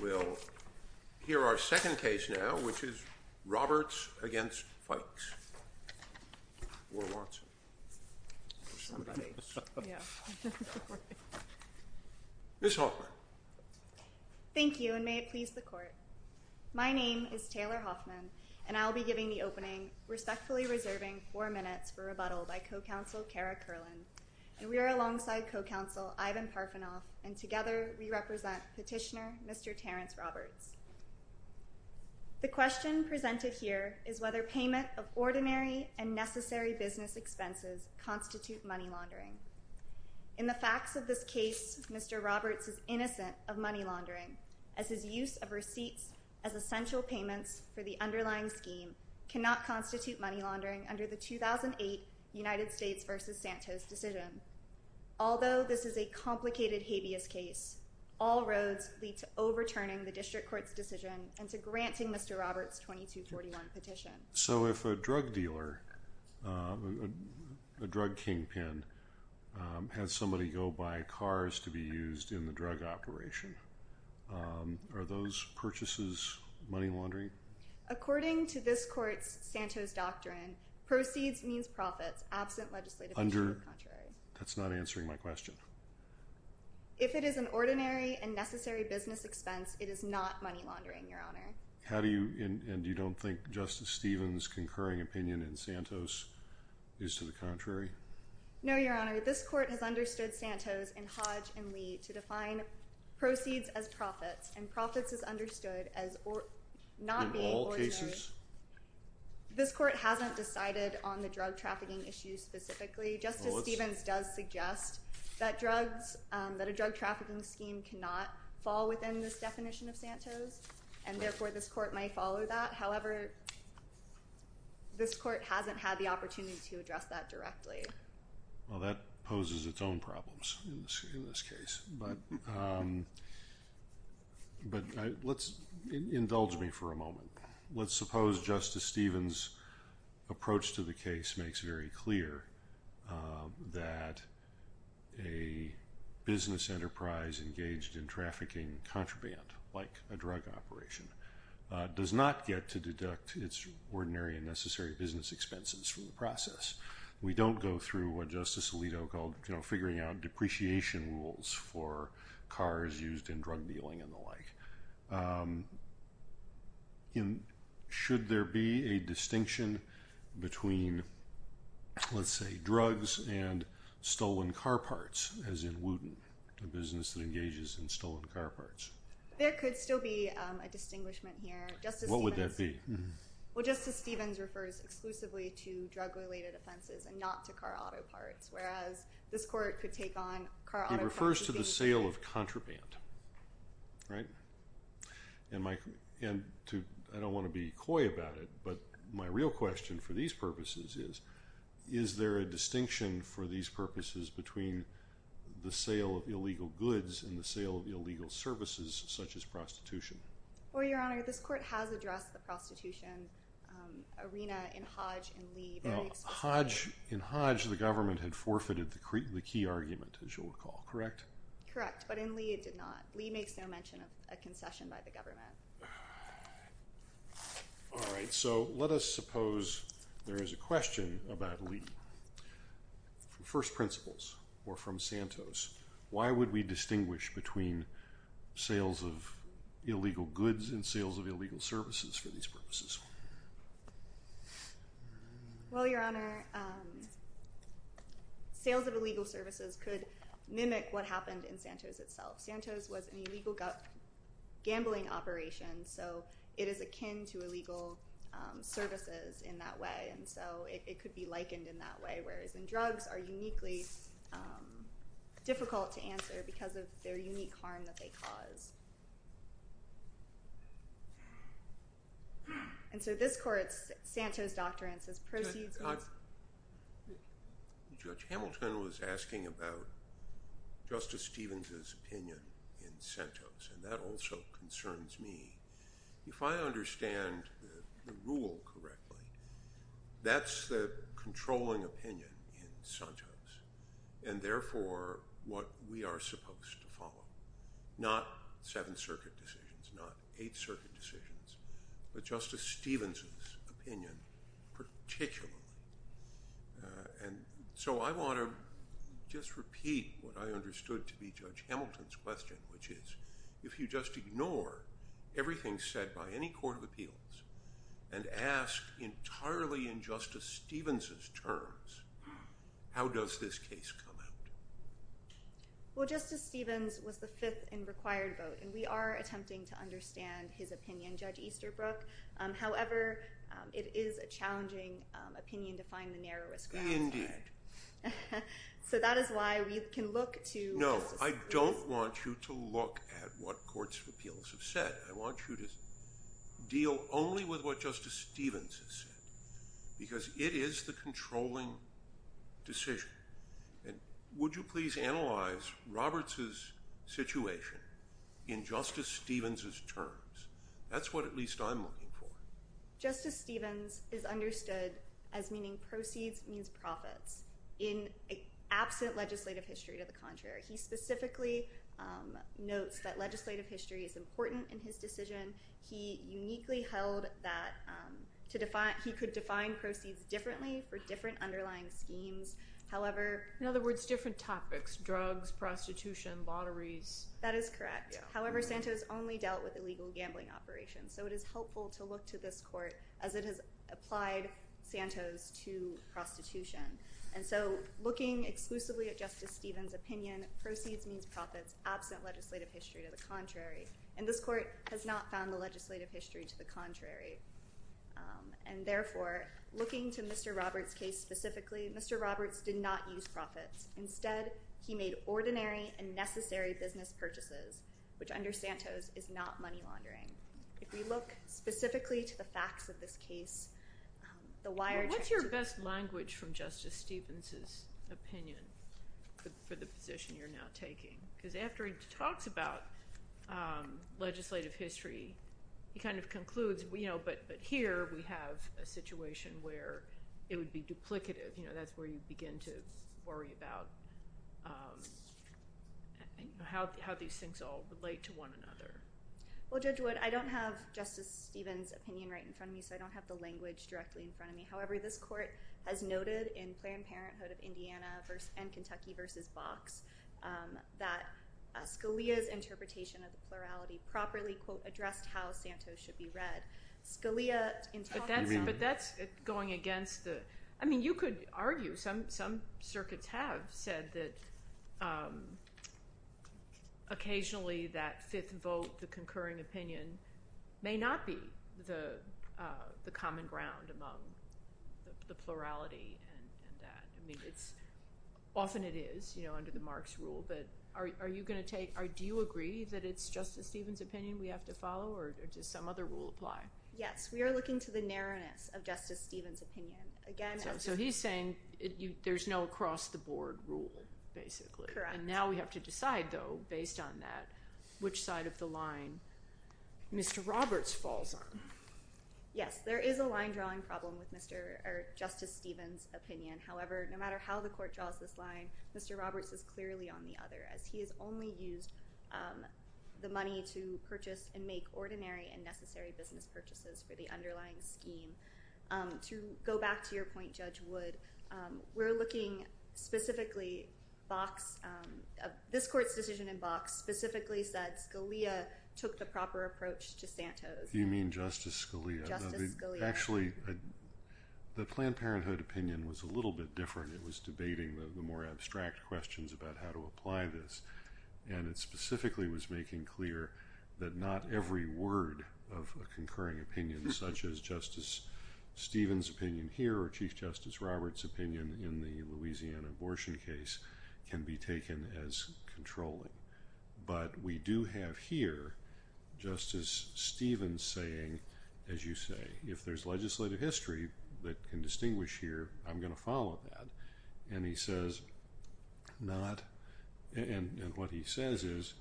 We'll hear our second case now, which is Roberts v. Fikes. Ms. Hoffman. Thank you, and may it please the Court. My name is Taylor Hoffman, and I will be giving the opening, respectfully reserving four minutes, for rebuttal by Co-Counsel Kara Kerlin. We are alongside Co-Counsel Ivan Parfenov, and together we represent Petitioner Mr. Terrance Roberts. The question presented here is whether payment of ordinary and necessary business expenses constitute money laundering. In the facts of this case, Mr. Roberts is innocent of money laundering, as his use of receipts as essential payments for the underlying scheme cannot constitute money laundering under the 2008 United States v. Santos decision. Although this is a complicated habeas case, all roads lead to overturning the District Court's decision and to granting Mr. Roberts' 2241 petition. So if a drug dealer, a drug kingpin, has somebody go buy cars to be used in the drug operation, are those purchases money laundering? According to this Court's Santos Doctrine, proceeds means profits, absent legislative action to the contrary. That's not answering my question. If it is an ordinary and necessary business expense, it is not money laundering, Your Honor. And you don't think Justice Stevens' concurring opinion in Santos is to the contrary? No, Your Honor. This Court has understood Santos and Hodge and Lee to define proceeds as profits, and profits is understood as not being ordinary. In all cases? This Court hasn't decided on the drug trafficking issue specifically. Justice Stevens does suggest that drugs, that a drug trafficking scheme cannot fall within this definition of Santos, and therefore this Court might follow that. However, this Court hasn't had the opportunity to address that directly. Well, that poses its own problems in this case, but let's indulge me for a moment. Let's suppose Justice Stevens' approach to the case makes very clear that a business enterprise engaged in trafficking contraband, like a drug operation, does not get to deduct its ordinary and necessary business expenses from the process. We don't go through what Justice Alito called figuring out depreciation rules for cars used in drug dealing and the like. Should there be a distinction between, let's say, drugs and stolen car parts, as in Wooten, a business that engages in stolen car parts? There could still be a distinguishment here. What would that be? Well, Justice Stevens refers exclusively to drug-related offenses and not to car auto parts, whereas this Court could take on car auto parts. He refers to the sale of contraband, right? And I don't want to be coy about it, but my real question for these purposes is, is there a distinction for these purposes between the sale of illegal goods and the sale of illegal services, such as prostitution? Well, Your Honor, this Court has addressed the prostitution arena in Hodge and Lee. In Hodge, the government had forfeited the key argument, as you'll recall, correct? Correct, but in Lee it did not. Lee makes no mention of a concession by the government. All right, so let us suppose there is a question about Lee. From first principles or from Santos, why would we distinguish between sales of illegal goods and sales of illegal services for these purposes? Well, Your Honor, sales of illegal services could mimic what happened in Santos itself. Santos was an illegal gambling operation, so it is akin to illegal services in that way, and so it could be likened in that way, whereas in drugs are uniquely difficult to answer because of their unique harm that they cause. And so this Court's Santos Doctrine says proceeds… Judge Hamilton was asking about Justice Stevens' opinion in Santos, and that also concerns me. If I understand the rule correctly, that's the controlling opinion in Santos, and therefore what we are supposed to follow, not Seventh Circuit decisions, not Eighth Circuit decisions, but Justice Stevens' opinion particularly. And so I want to just repeat what I understood to be Judge Hamilton's question, which is if you just ignore everything said by any court of appeals and ask entirely in Justice Stevens' terms, how does this case come out? Well, Justice Stevens was the fifth and required vote, and we are attempting to understand his opinion, Judge Easterbrook. However, it is a challenging opinion to find the narrowest ground. Indeed. So that is why we can look to… No, I don't want you to look at what courts of appeals have said. I want you to deal only with what Justice Stevens has said because it is the controlling decision. And would you please analyze Roberts' situation in Justice Stevens' terms? That's what at least I'm looking for. Justice Stevens is understood as meaning proceeds means profits in absent legislative history to the contrary. He specifically notes that legislative history is important in his decision. He uniquely held that he could define proceeds differently for different underlying schemes. However… In other words, different topics, drugs, prostitution, lotteries. That is correct. However, Santos only dealt with illegal gambling operations. So it is helpful to look to this court as it has applied Santos to prostitution. And so looking exclusively at Justice Stevens' opinion, proceeds means profits absent legislative history to the contrary. And this court has not found the legislative history to the contrary. And therefore, looking to Mr. Roberts' case specifically, Mr. Roberts did not use profits. Instead, he made ordinary and necessary business purchases, which under Santos is not money laundering. If we look specifically to the facts of this case, the wire… What's your best language from Justice Stevens' opinion for the position you're now taking? Because after he talks about legislative history, he kind of concludes, you know, but here we have a situation where it would be duplicative. That's where you begin to worry about how these things all relate to one another. Well, Judge Wood, I don't have Justice Stevens' opinion right in front of me, so I don't have the language directly in front of me. However, this court has noted in Planned Parenthood of Indiana and Kentucky v. Box that Scalia's interpretation of the plurality properly, quote, addressed how Santos should be read. But that's going against the – I mean you could argue. Some circuits have said that occasionally that fifth vote, the concurring opinion, may not be the common ground among the plurality and that. I mean it's – often it is, you know, under the Marx rule. But are you going to take – do you agree that it's Justice Stevens' opinion we have to follow or does some other rule apply? Yes, we are looking to the narrowness of Justice Stevens' opinion. So he's saying there's no across-the-board rule, basically. Correct. And now we have to decide, though, based on that, which side of the line Mr. Roberts falls on. Yes, there is a line-drawing problem with Justice Stevens' opinion. However, no matter how the court draws this line, Mr. Roberts is clearly on the other as he has only used the money to purchase and make ordinary and necessary business purchases for the underlying scheme. To go back to your point, Judge Wood, we're looking specifically – Box – this court's decision in Box specifically said Scalia took the proper approach to Santos. You mean Justice Scalia? Justice Scalia. Actually, the Planned Parenthood opinion was a little bit different. It was debating the more abstract questions about how to apply this. And it specifically was making clear that not every word of a concurring opinion, such as Justice Stevens' opinion here or Chief Justice Roberts' opinion in the Louisiana abortion case, can be taken as controlling. But we do have here Justice Stevens saying, as you say, if there's legislative history that can distinguish here, I'm going to follow that. And he says not – and what he says is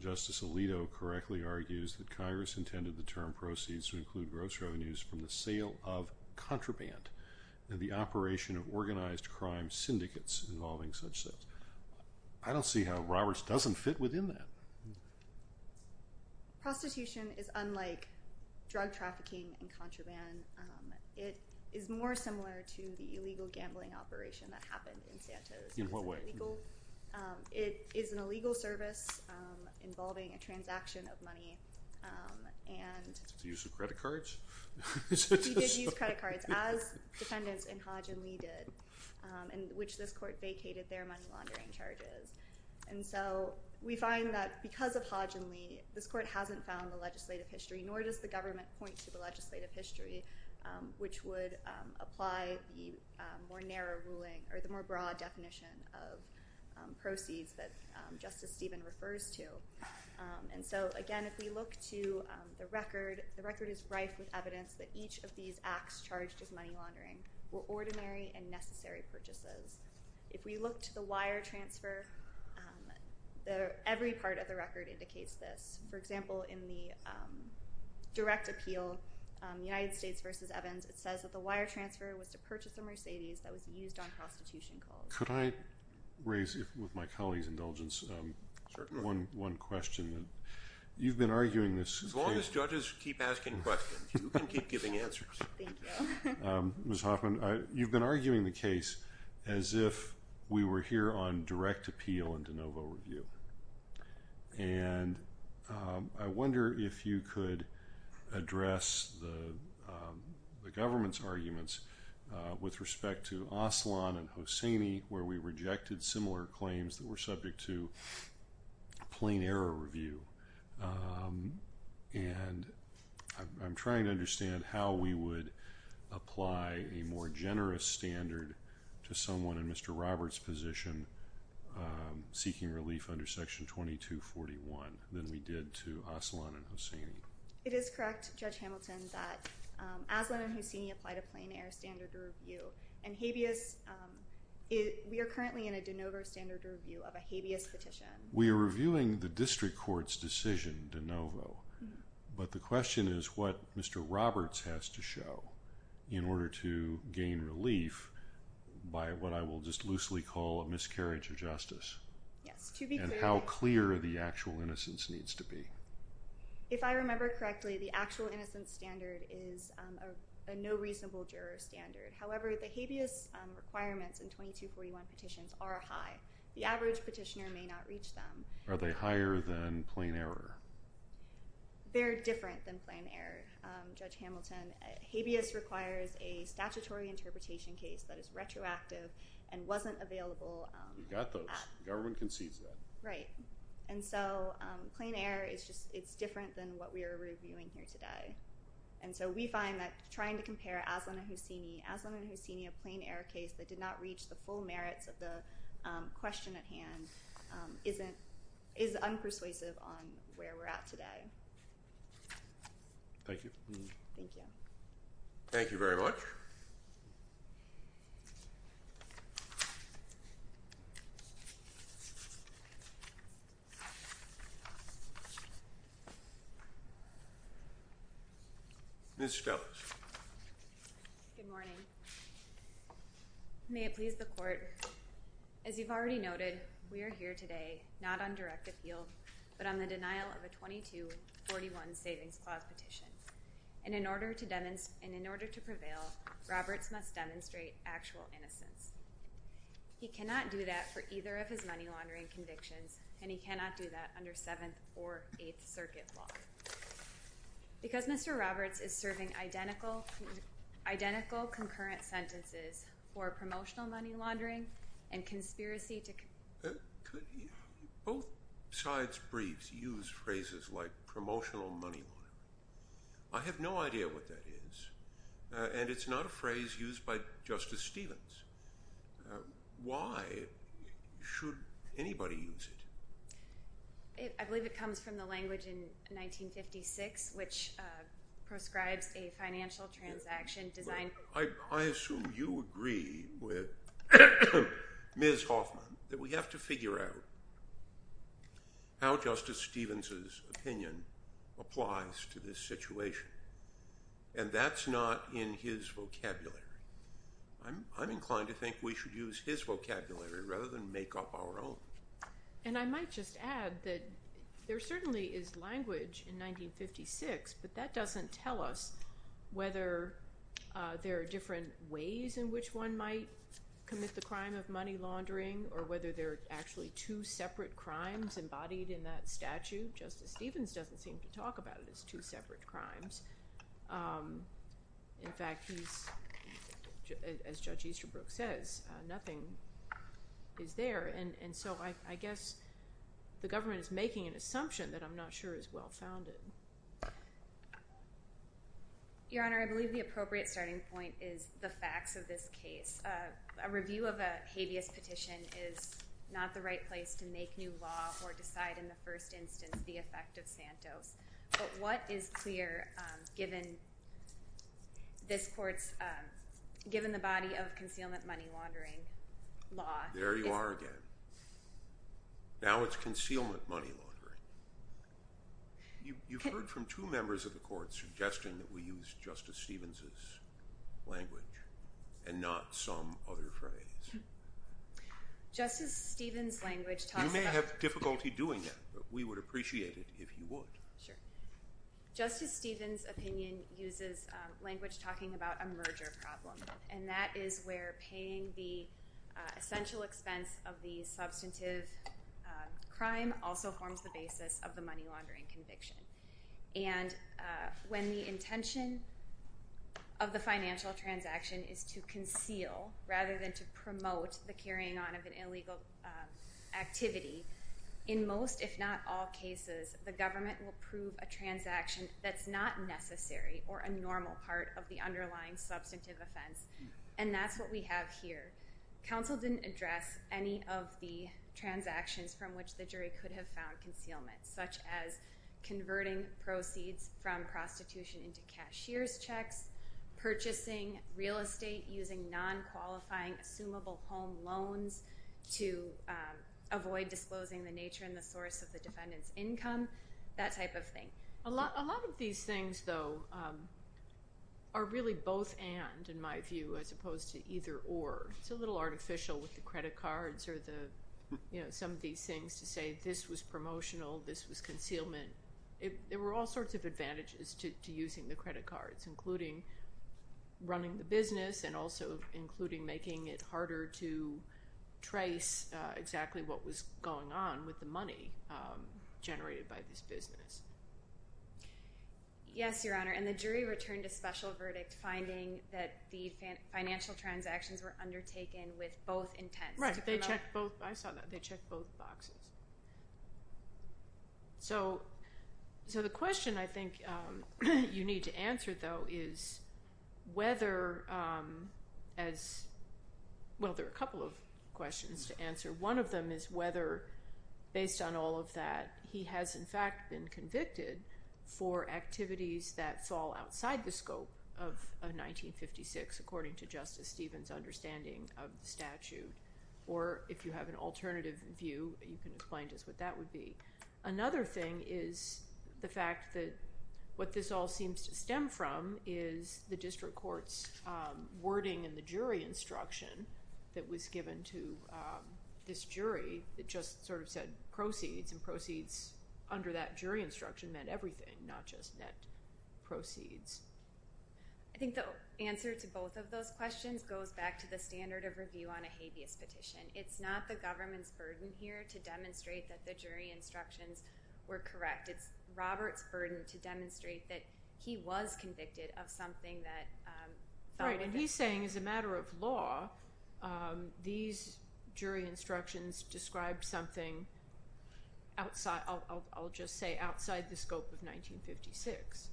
Justice Alito correctly argues that Congress intended the term proceeds to include gross revenues from the sale of contraband and the operation of organized crime syndicates involving such sales. I don't see how Roberts doesn't fit within that. Prostitution is unlike drug trafficking and contraband. It is more similar to the illegal gambling operation that happened in Santos. In what way? It is an illegal service involving a transaction of money and – Use of credit cards? He did use credit cards, as defendants in Hodge and Lee did, in which this court vacated their money laundering charges. And so we find that because of Hodge and Lee, this court hasn't found the legislative history, nor does the government point to the legislative history, which would apply the more narrow ruling or the more broad definition of proceeds that Justice Stevens refers to. And so, again, if we look to the record, the record is rife with evidence that each of these acts charged with money laundering were ordinary and necessary purchases. If we look to the wire transfer, every part of the record indicates this. For example, in the direct appeal, United States v. Evans, it says that the wire transfer was to purchase a Mercedes that was used on prostitution calls. Could I raise, with my colleague's indulgence, one question? You've been arguing this case – As long as judges keep asking questions, you can keep giving answers. Thank you. Ms. Hoffman, you've been arguing the case as if we were here on direct appeal and de novo review. And I wonder if you could address the government's arguments with respect to Aslan and Hosseini, where we rejected similar claims that were subject to plain error review. And I'm trying to understand how we would apply a more generous standard to someone in Mr. Roberts' position seeking relief under Section 2241 than we did to Aslan and Hosseini. It is correct, Judge Hamilton, that Aslan and Hosseini applied a plain error standard review. And habeas – we are currently in a de novo standard review of a habeas petition. We are reviewing the district court's decision de novo. But the question is what Mr. Roberts has to show in order to gain relief by what I will just loosely call a miscarriage of justice. Yes, to be clear – And how clear the actual innocence needs to be. If I remember correctly, the actual innocence standard is a no reasonable juror standard. However, the habeas requirements in 2241 petitions are high. The average petitioner may not reach them. Are they higher than plain error? They're different than plain error, Judge Hamilton. Habeas requires a statutory interpretation case that is retroactive and wasn't available. You got those. The government concedes that. Right. And so, plain error is just – it's different than what we are reviewing here today. And so, we find that trying to compare Aslan and Hosseini – Aslan and Hosseini, a plain error case that did not reach the full merits of the question at hand isn't – is unpersuasive on where we're at today. Thank you. Thank you. Thank you very much. Ms. Stellas. Good morning. May it please the court, as you've already noted, we are here today not on direct appeal, but on the denial of a 2241 savings clause petition. And in order to – and in order to prevail, Roberts must demonstrate actual innocence. He cannot do that for either of his money laundering convictions, and he cannot do that under Seventh or Eighth Circuit law. Because Mr. Roberts is serving identical – identical concurrent sentences for promotional money laundering and conspiracy to – Both sides' briefs use phrases like promotional money laundering. I have no idea what that is, and it's not a phrase used by Justice Stevens. Why should anybody use it? I believe it comes from the language in 1956, which proscribes a financial transaction designed – I assume you agree with Ms. Hoffman that we have to figure out how Justice Stevens' opinion applies to this situation, and that's not in his vocabulary. I'm inclined to think we should use his vocabulary rather than make up our own. And I might just add that there certainly is language in 1956, but that doesn't tell us whether there are different ways in which one might commit the crime of money laundering or whether there are actually two separate crimes embodied in that statute. Justice Stevens doesn't seem to talk about it as two separate crimes. In fact, he's – as Judge Easterbrook says, nothing is there. And so I guess the government is making an assumption that I'm not sure is well founded. Your Honor, I believe the appropriate starting point is the facts of this case. A review of a habeas petition is not the right place to make new law or decide in the first instance the effect of Santos. But what is clear, given this Court's – given the body of concealment money laundering law – There you are again. Now it's concealment money laundering. You've heard from two members of the Court suggesting that we use Justice Stevens' language and not some other phrase. Justice Stevens' language talks about – Justice Stevens' opinion uses language talking about a merger problem, and that is where paying the essential expense of the substantive crime also forms the basis of the money laundering conviction. And when the intention of the financial transaction is to conceal rather than to promote the carrying on of an illegal activity, in most, if not all cases, the government will prove a transaction that's not necessary or a normal part of the underlying substantive offense. And that's what we have here. Counsel didn't address any of the transactions from which the jury could have found concealment, such as converting proceeds from prostitution into cashier's checks, purchasing real estate using non-qualifying assumable home loans to avoid disclosing the nature and the source of the defendant's income, that type of thing. A lot of these things, though, are really both and, in my view, as opposed to either or. It's a little artificial with the credit cards or some of these things to say this was promotional, this was concealment. There were all sorts of advantages to using the credit cards, including running the business and also including making it harder to trace exactly what was going on with the money generated by this business. Yes, Your Honor, and the jury returned a special verdict finding that the financial transactions were undertaken with both intents. Right, they checked both. I saw that. They checked both boxes. So the question, I think, you need to answer, though, is whether, well, there are a couple of questions to answer. One of them is whether, based on all of that, he has, in fact, been convicted for activities that fall outside the scope of 1956, according to Justice Stevens' understanding of the statute, or if you have an alternative view, you can explain to us what that would be. Another thing is the fact that what this all seems to stem from is the district court's wording in the jury instruction that was given to this jury. It just sort of said proceeds, and proceeds under that jury instruction meant everything, not just net proceeds. I think the answer to both of those questions goes back to the standard of review on a habeas petition. It's not the government's burden here to demonstrate that the jury instructions were correct. It's Robert's burden to demonstrate that he was convicted of something that fell within. Right, and he's saying, as a matter of law, these jury instructions described something, I'll just say, outside the scope of 1956.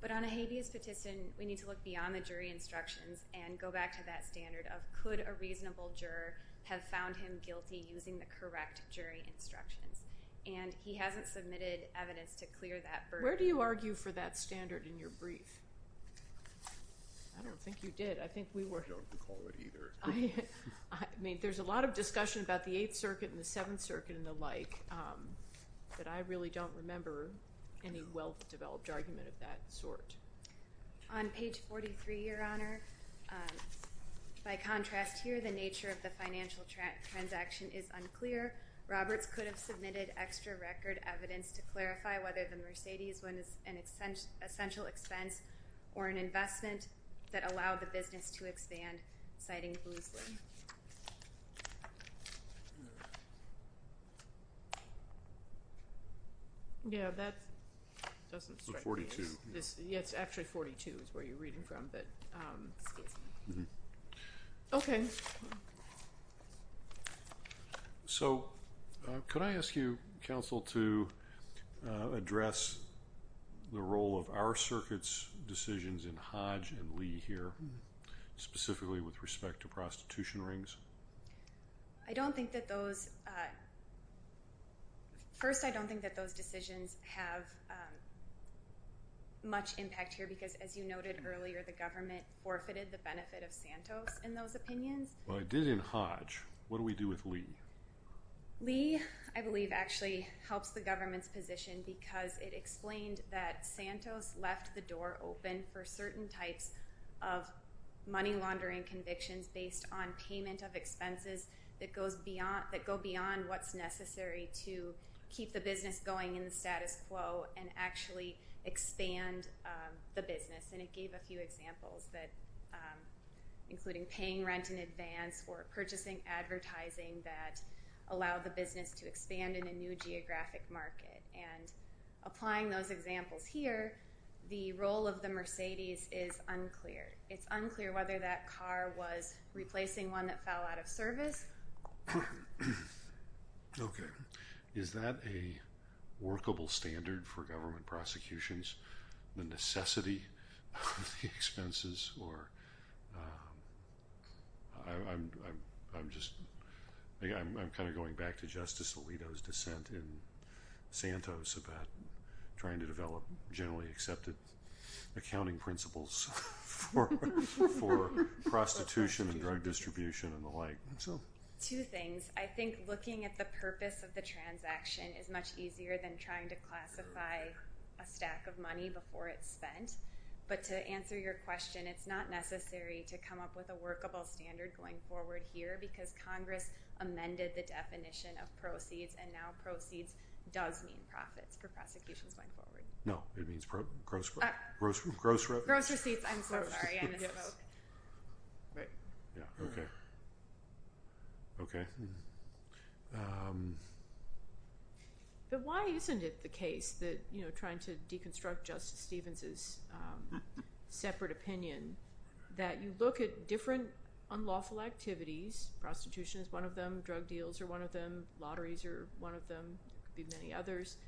But on a habeas petition, we need to look beyond the jury instructions and go back to that standard of, could a reasonable juror have found him guilty using the correct jury instructions? And he hasn't submitted evidence to clear that burden. Where do you argue for that standard in your brief? I don't think you did. I don't recall it either. I mean, there's a lot of discussion about the Eighth Circuit and the Seventh Circuit and the like, but I really don't remember any well-developed argument of that sort. On page 43, Your Honor, by contrast here, the nature of the financial transaction is unclear. Roberts could have submitted extra record evidence to clarify whether the Mercedes was an essential expense or an investment that allowed the business to expand, citing Boosley. Yeah, that doesn't strike me. The 42. Yeah, it's actually 42 is where you're reading from, but excuse me. Okay. So could I ask you, counsel, to address the role of our circuit's decisions in Hodge and Lee here, specifically with respect to prostitution rings? I don't think that those – first, I don't think that those decisions have much impact here because, as you noted earlier, the government forfeited the benefit of Santos in those opinions. Well, it did in Hodge. What do we do with Lee? Lee, I believe, actually helps the government's position because it explained that Santos left the door open for certain types of money laundering convictions based on payment of expenses that go beyond what's necessary to keep the business going in the status quo and actually expand the business. And it gave a few examples, including paying rent in advance or purchasing advertising that allowed the business to expand in a new geographic market. And applying those examples here, the role of the Mercedes is unclear. It's unclear whether that car was replacing one that fell out of service. Okay. Is that a workable standard for government prosecutions, the necessity of the expenses? Or I'm just – I'm kind of going back to Justice Alito's dissent in Santos about trying to develop generally accepted accounting principles for prostitution and drug distribution and the like. I think so. Two things. I think looking at the purpose of the transaction is much easier than trying to classify a stack of money before it's spent. But to answer your question, it's not necessary to come up with a workable standard going forward here because Congress amended the definition of proceeds, and now proceeds does mean profits for prosecutions going forward. No, it means gross – gross revenues. Gross receipts. I'm so sorry. Right. Yeah. Okay. Okay. But why isn't it the case that, you know, trying to deconstruct Justice Stevens' separate opinion, that you look at different unlawful activities – prostitution is one of them, drug deals are one of them, lotteries are one of them, there could be many others –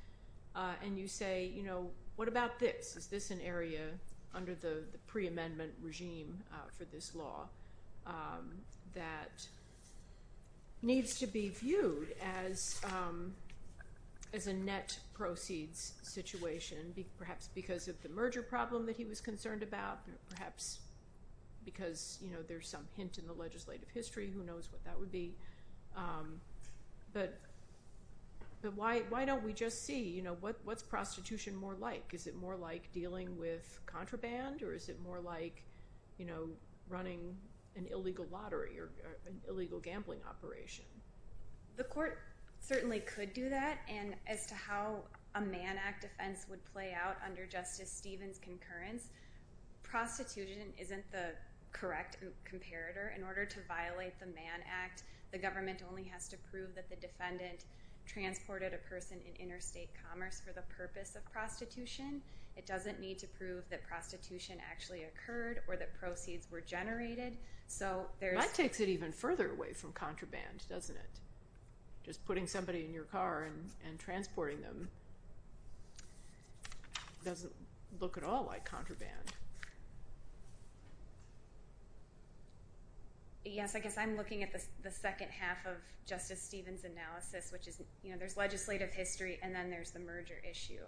and you say, you know, what about this? Is this an area under the pre-amendment regime for this law that needs to be viewed as a net proceeds situation, perhaps because of the merger problem that he was concerned about, perhaps because, you know, there's some hint in the legislative history. Who knows what that would be? But why don't we just see, you know, what's prostitution more like? Is it more like dealing with contraband, or is it more like, you know, running an illegal lottery or an illegal gambling operation? The court certainly could do that, and as to how a Mann Act offense would play out under Justice Stevens' concurrence, prostitution isn't the correct comparator. In order to violate the Mann Act, the government only has to prove that the defendant transported a person in interstate commerce for the purpose of prostitution. It doesn't need to prove that prostitution actually occurred or that proceeds were generated. That takes it even further away from contraband, doesn't it? Just putting somebody in your car and transporting them doesn't look at all like contraband. Yes, I guess I'm looking at the second half of Justice Stevens' analysis, which is, you know, there's legislative history and then there's the merger issue.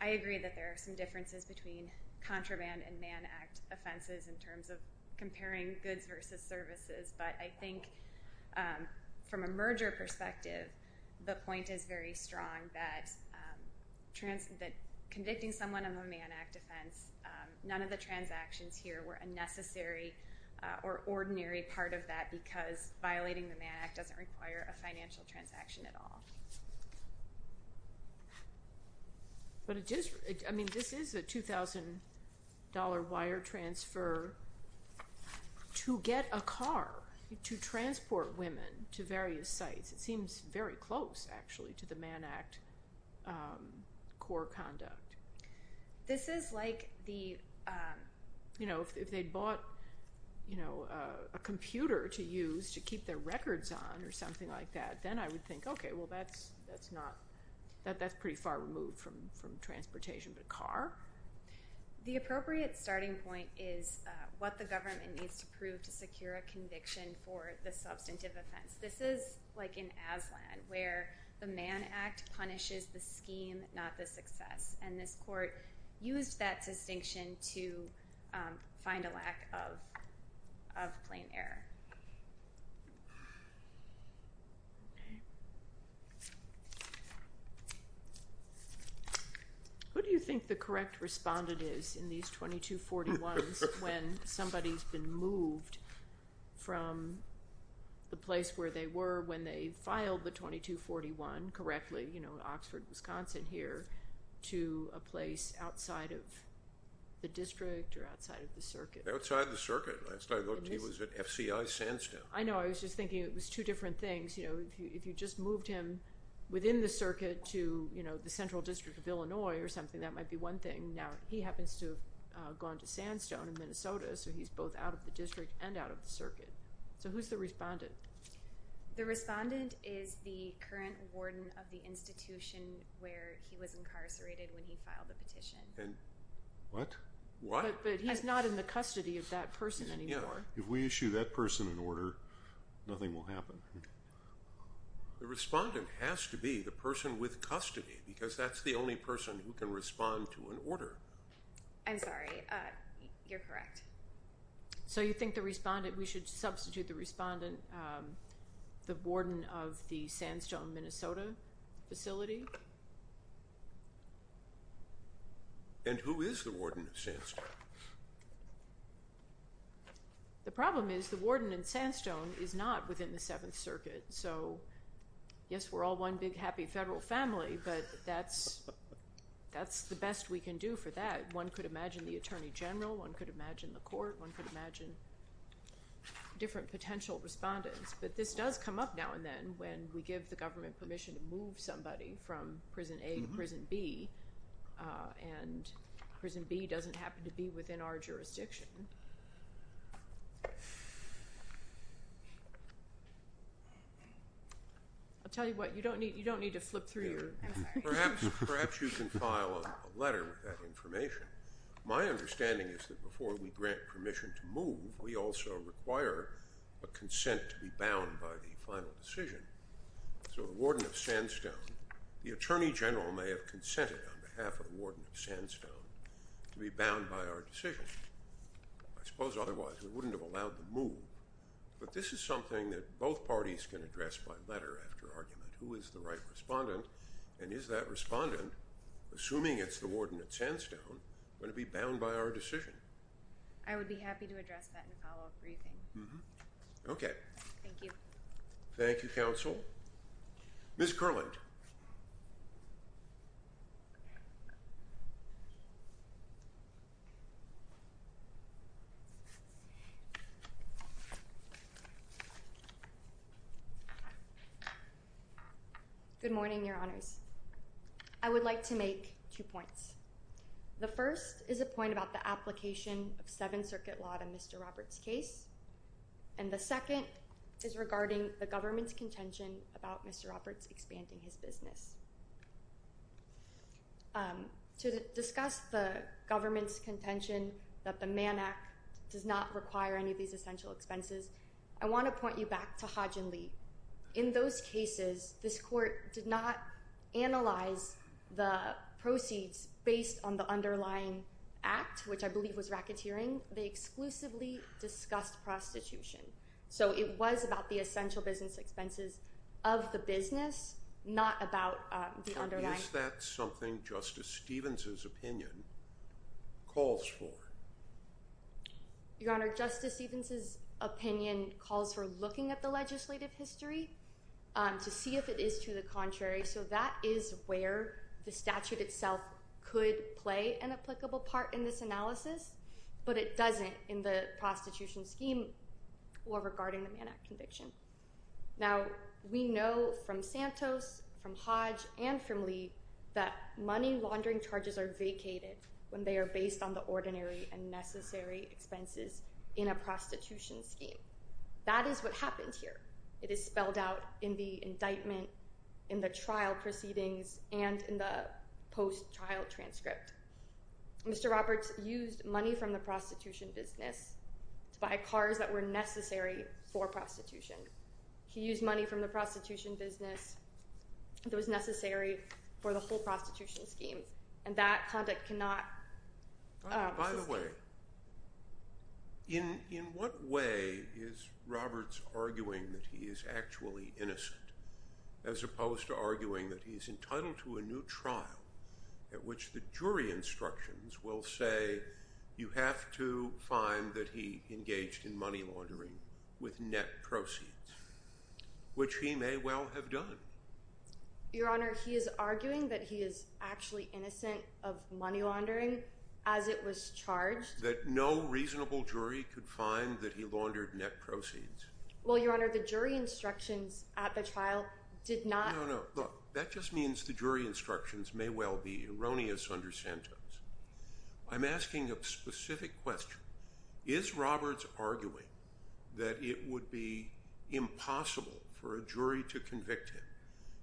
I agree that there are some differences between contraband and Mann Act offenses in terms of comparing goods versus services, but I think from a merger perspective, the point is very strong that convicting someone on the Mann Act offense, none of the transactions here were a necessary or ordinary part of that because violating the Mann Act doesn't require a financial transaction at all. But this is a $2,000 wire transfer to get a car, to transport women to various sites. It seems very close, actually, to the Mann Act core conduct. This is like the, you know, if they bought a computer to use to keep their records on or something like that, then I would think, okay, well, that's pretty far removed from transportation, but a car? The appropriate starting point is what the government needs to prove to secure a conviction for the substantive offense. This is like in Aslan where the Mann Act punishes the scheme, not the success, and this court used that distinction to find a lack of plain error. Who do you think the correct respondent is in these 2241s when somebody's been moved from the place where they were when they filed the 2241 correctly, you know, Oxford, Wisconsin here, to a place outside of the district or outside of the circuit? Outside of the circuit. Last I looked, he was at FCI Sandstone. I know. I was just thinking it was two different things. You know, if you just moved him within the circuit to, you know, the central district of Illinois or something, that might be one thing. Now, he happens to have gone to Sandstone in Minnesota, so he's both out of the district and out of the circuit. So who's the respondent? The respondent is the current warden of the institution where he was incarcerated when he filed the petition. What? What? But he's not in the custody of that person anymore. Yeah. If we issue that person an order, nothing will happen. The respondent has to be the person with custody because that's the only person who can respond to an order. I'm sorry. You're correct. So you think the respondent, we should substitute the respondent, the warden of the Sandstone, Minnesota facility? And who is the warden of Sandstone? The problem is the warden in Sandstone is not within the Seventh Circuit. So, yes, we're all one big happy federal family, but that's the best we can do for that. One could imagine the attorney general. One could imagine the court. One could imagine different potential respondents. But this does come up now and then when we give the government permission to move somebody from Prison A to Prison B. And Prison B doesn't happen to be within our jurisdiction. I'll tell you what, you don't need to flip through. Perhaps you can file a letter with that information. My understanding is that before we grant permission to move, we also require a consent to be bound by the final decision. So the warden of Sandstone, the attorney general may have consented on behalf of the warden of Sandstone to be bound by our decision. I suppose otherwise we wouldn't have allowed the move. But this is something that both parties can address by letter after argument. Who is the right respondent? And is that respondent, assuming it's the warden at Sandstone, going to be bound by our decision? I would be happy to address that in a follow-up briefing. Okay. Thank you. Thank you, counsel. Ms. Kurland. Good morning, Your Honors. I would like to make two points. The first is a point about the application of Seventh Circuit law to Mr. Roberts' case. And the second is regarding the government's contention about Mr. Roberts expanding his business. To discuss the government's contention that the Mann Act does not require any of these essential expenses, I want to point you back to Hodgin Lee. In those cases, this court did not analyze the proceeds based on the underlying act, which I believe was racketeering. They exclusively discussed prostitution. So it was about the essential business expenses of the business, not about the underlying. Is that something Justice Stevens' opinion calls for? Your Honor, Justice Stevens' opinion calls for looking at the legislative history to see if it is to the contrary. So that is where the statute itself could play an applicable part in this analysis, but it doesn't in the prostitution scheme or regarding the Mann Act conviction. Now, we know from Santos, from Hodge, and from Lee that money laundering charges are vacated when they are based on the ordinary and necessary expenses in a prostitution scheme. That is what happened here. It is spelled out in the indictment, in the trial proceedings, and in the post-trial transcript. Mr. Roberts used money from the prostitution business to buy cars that were necessary for prostitution. He used money from the prostitution business that was necessary for the whole prostitution scheme, and that conduct cannot… Now, by the way, in what way is Roberts arguing that he is actually innocent as opposed to arguing that he is entitled to a new trial at which the jury instructions will say you have to find that he engaged in money laundering with net proceeds, which he may well have done? Your Honor, he is arguing that he is actually innocent of money laundering as it was charged. That no reasonable jury could find that he laundered net proceeds. Well, Your Honor, the jury instructions at the trial did not… No, no, look, that just means the jury instructions may well be erroneous under Santos. I'm asking a specific question. Is Roberts arguing that it would be impossible for a jury to convict him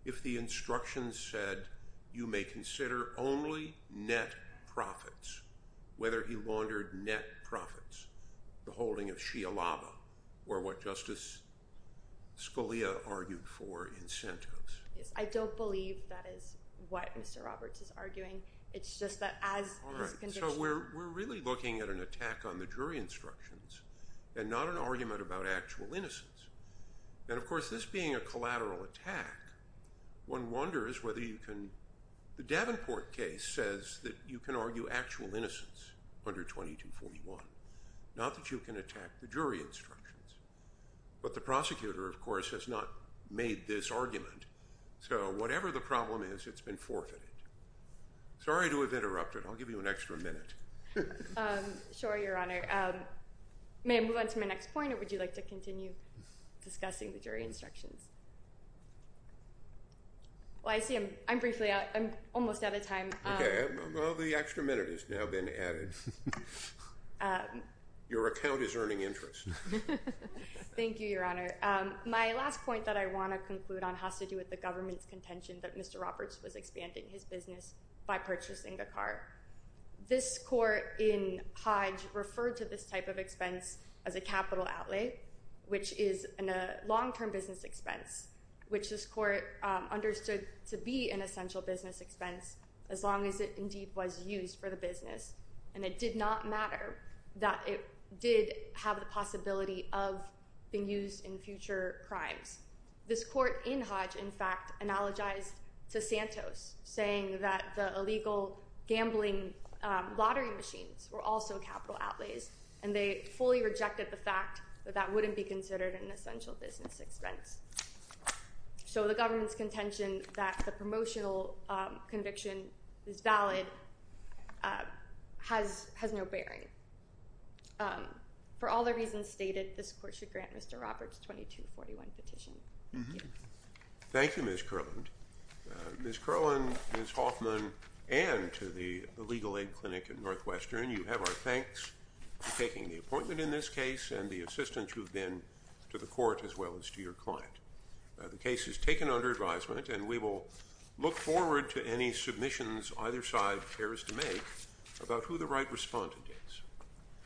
if the instructions said you may consider only net profits, whether he laundered net profits, the holding of Xialaba, or what Justice Scalia argued for in Santos? Yes, I don't believe that is what Mr. Roberts is arguing. All right, so we're really looking at an attack on the jury instructions and not an argument about actual innocence. And, of course, this being a collateral attack, one wonders whether you can… The Davenport case says that you can argue actual innocence under 2241, not that you can attack the jury instructions. But the prosecutor, of course, has not made this argument, so whatever the problem is, it's been forfeited. Sorry to have interrupted. I'll give you an extra minute. Sure, Your Honor. May I move on to my next point, or would you like to continue discussing the jury instructions? Well, I see I'm briefly out. I'm almost out of time. Okay, well, the extra minute has now been added. Your account is earning interest. Thank you, Your Honor. My last point that I want to conclude on has to do with the government's contention that Mr. Roberts was expanding his business by purchasing the car. This court in Hodge referred to this type of expense as a capital outlay, which is a long-term business expense, which this court understood to be an essential business expense as long as it indeed was used for the business. And it did not matter that it did have the possibility of being used in future crimes. This court in Hodge, in fact, analogized to Santos, saying that the illegal gambling lottery machines were also capital outlays, and they fully rejected the fact that that wouldn't be considered an essential business expense. So the government's contention that the promotional conviction is valid has no bearing. For all the reasons stated, this court should grant Mr. Roberts 2241 petition. Thank you. Thank you, Ms. Kurland. Ms. Kurland, Ms. Hoffman, and to the Legal Aid Clinic at Northwestern, you have our thanks for taking the appointment in this case and the assistance you've been to the court as well as to your client. The case is taken under advisement, and we will look forward to any submissions either side cares to make about who the right respondent is.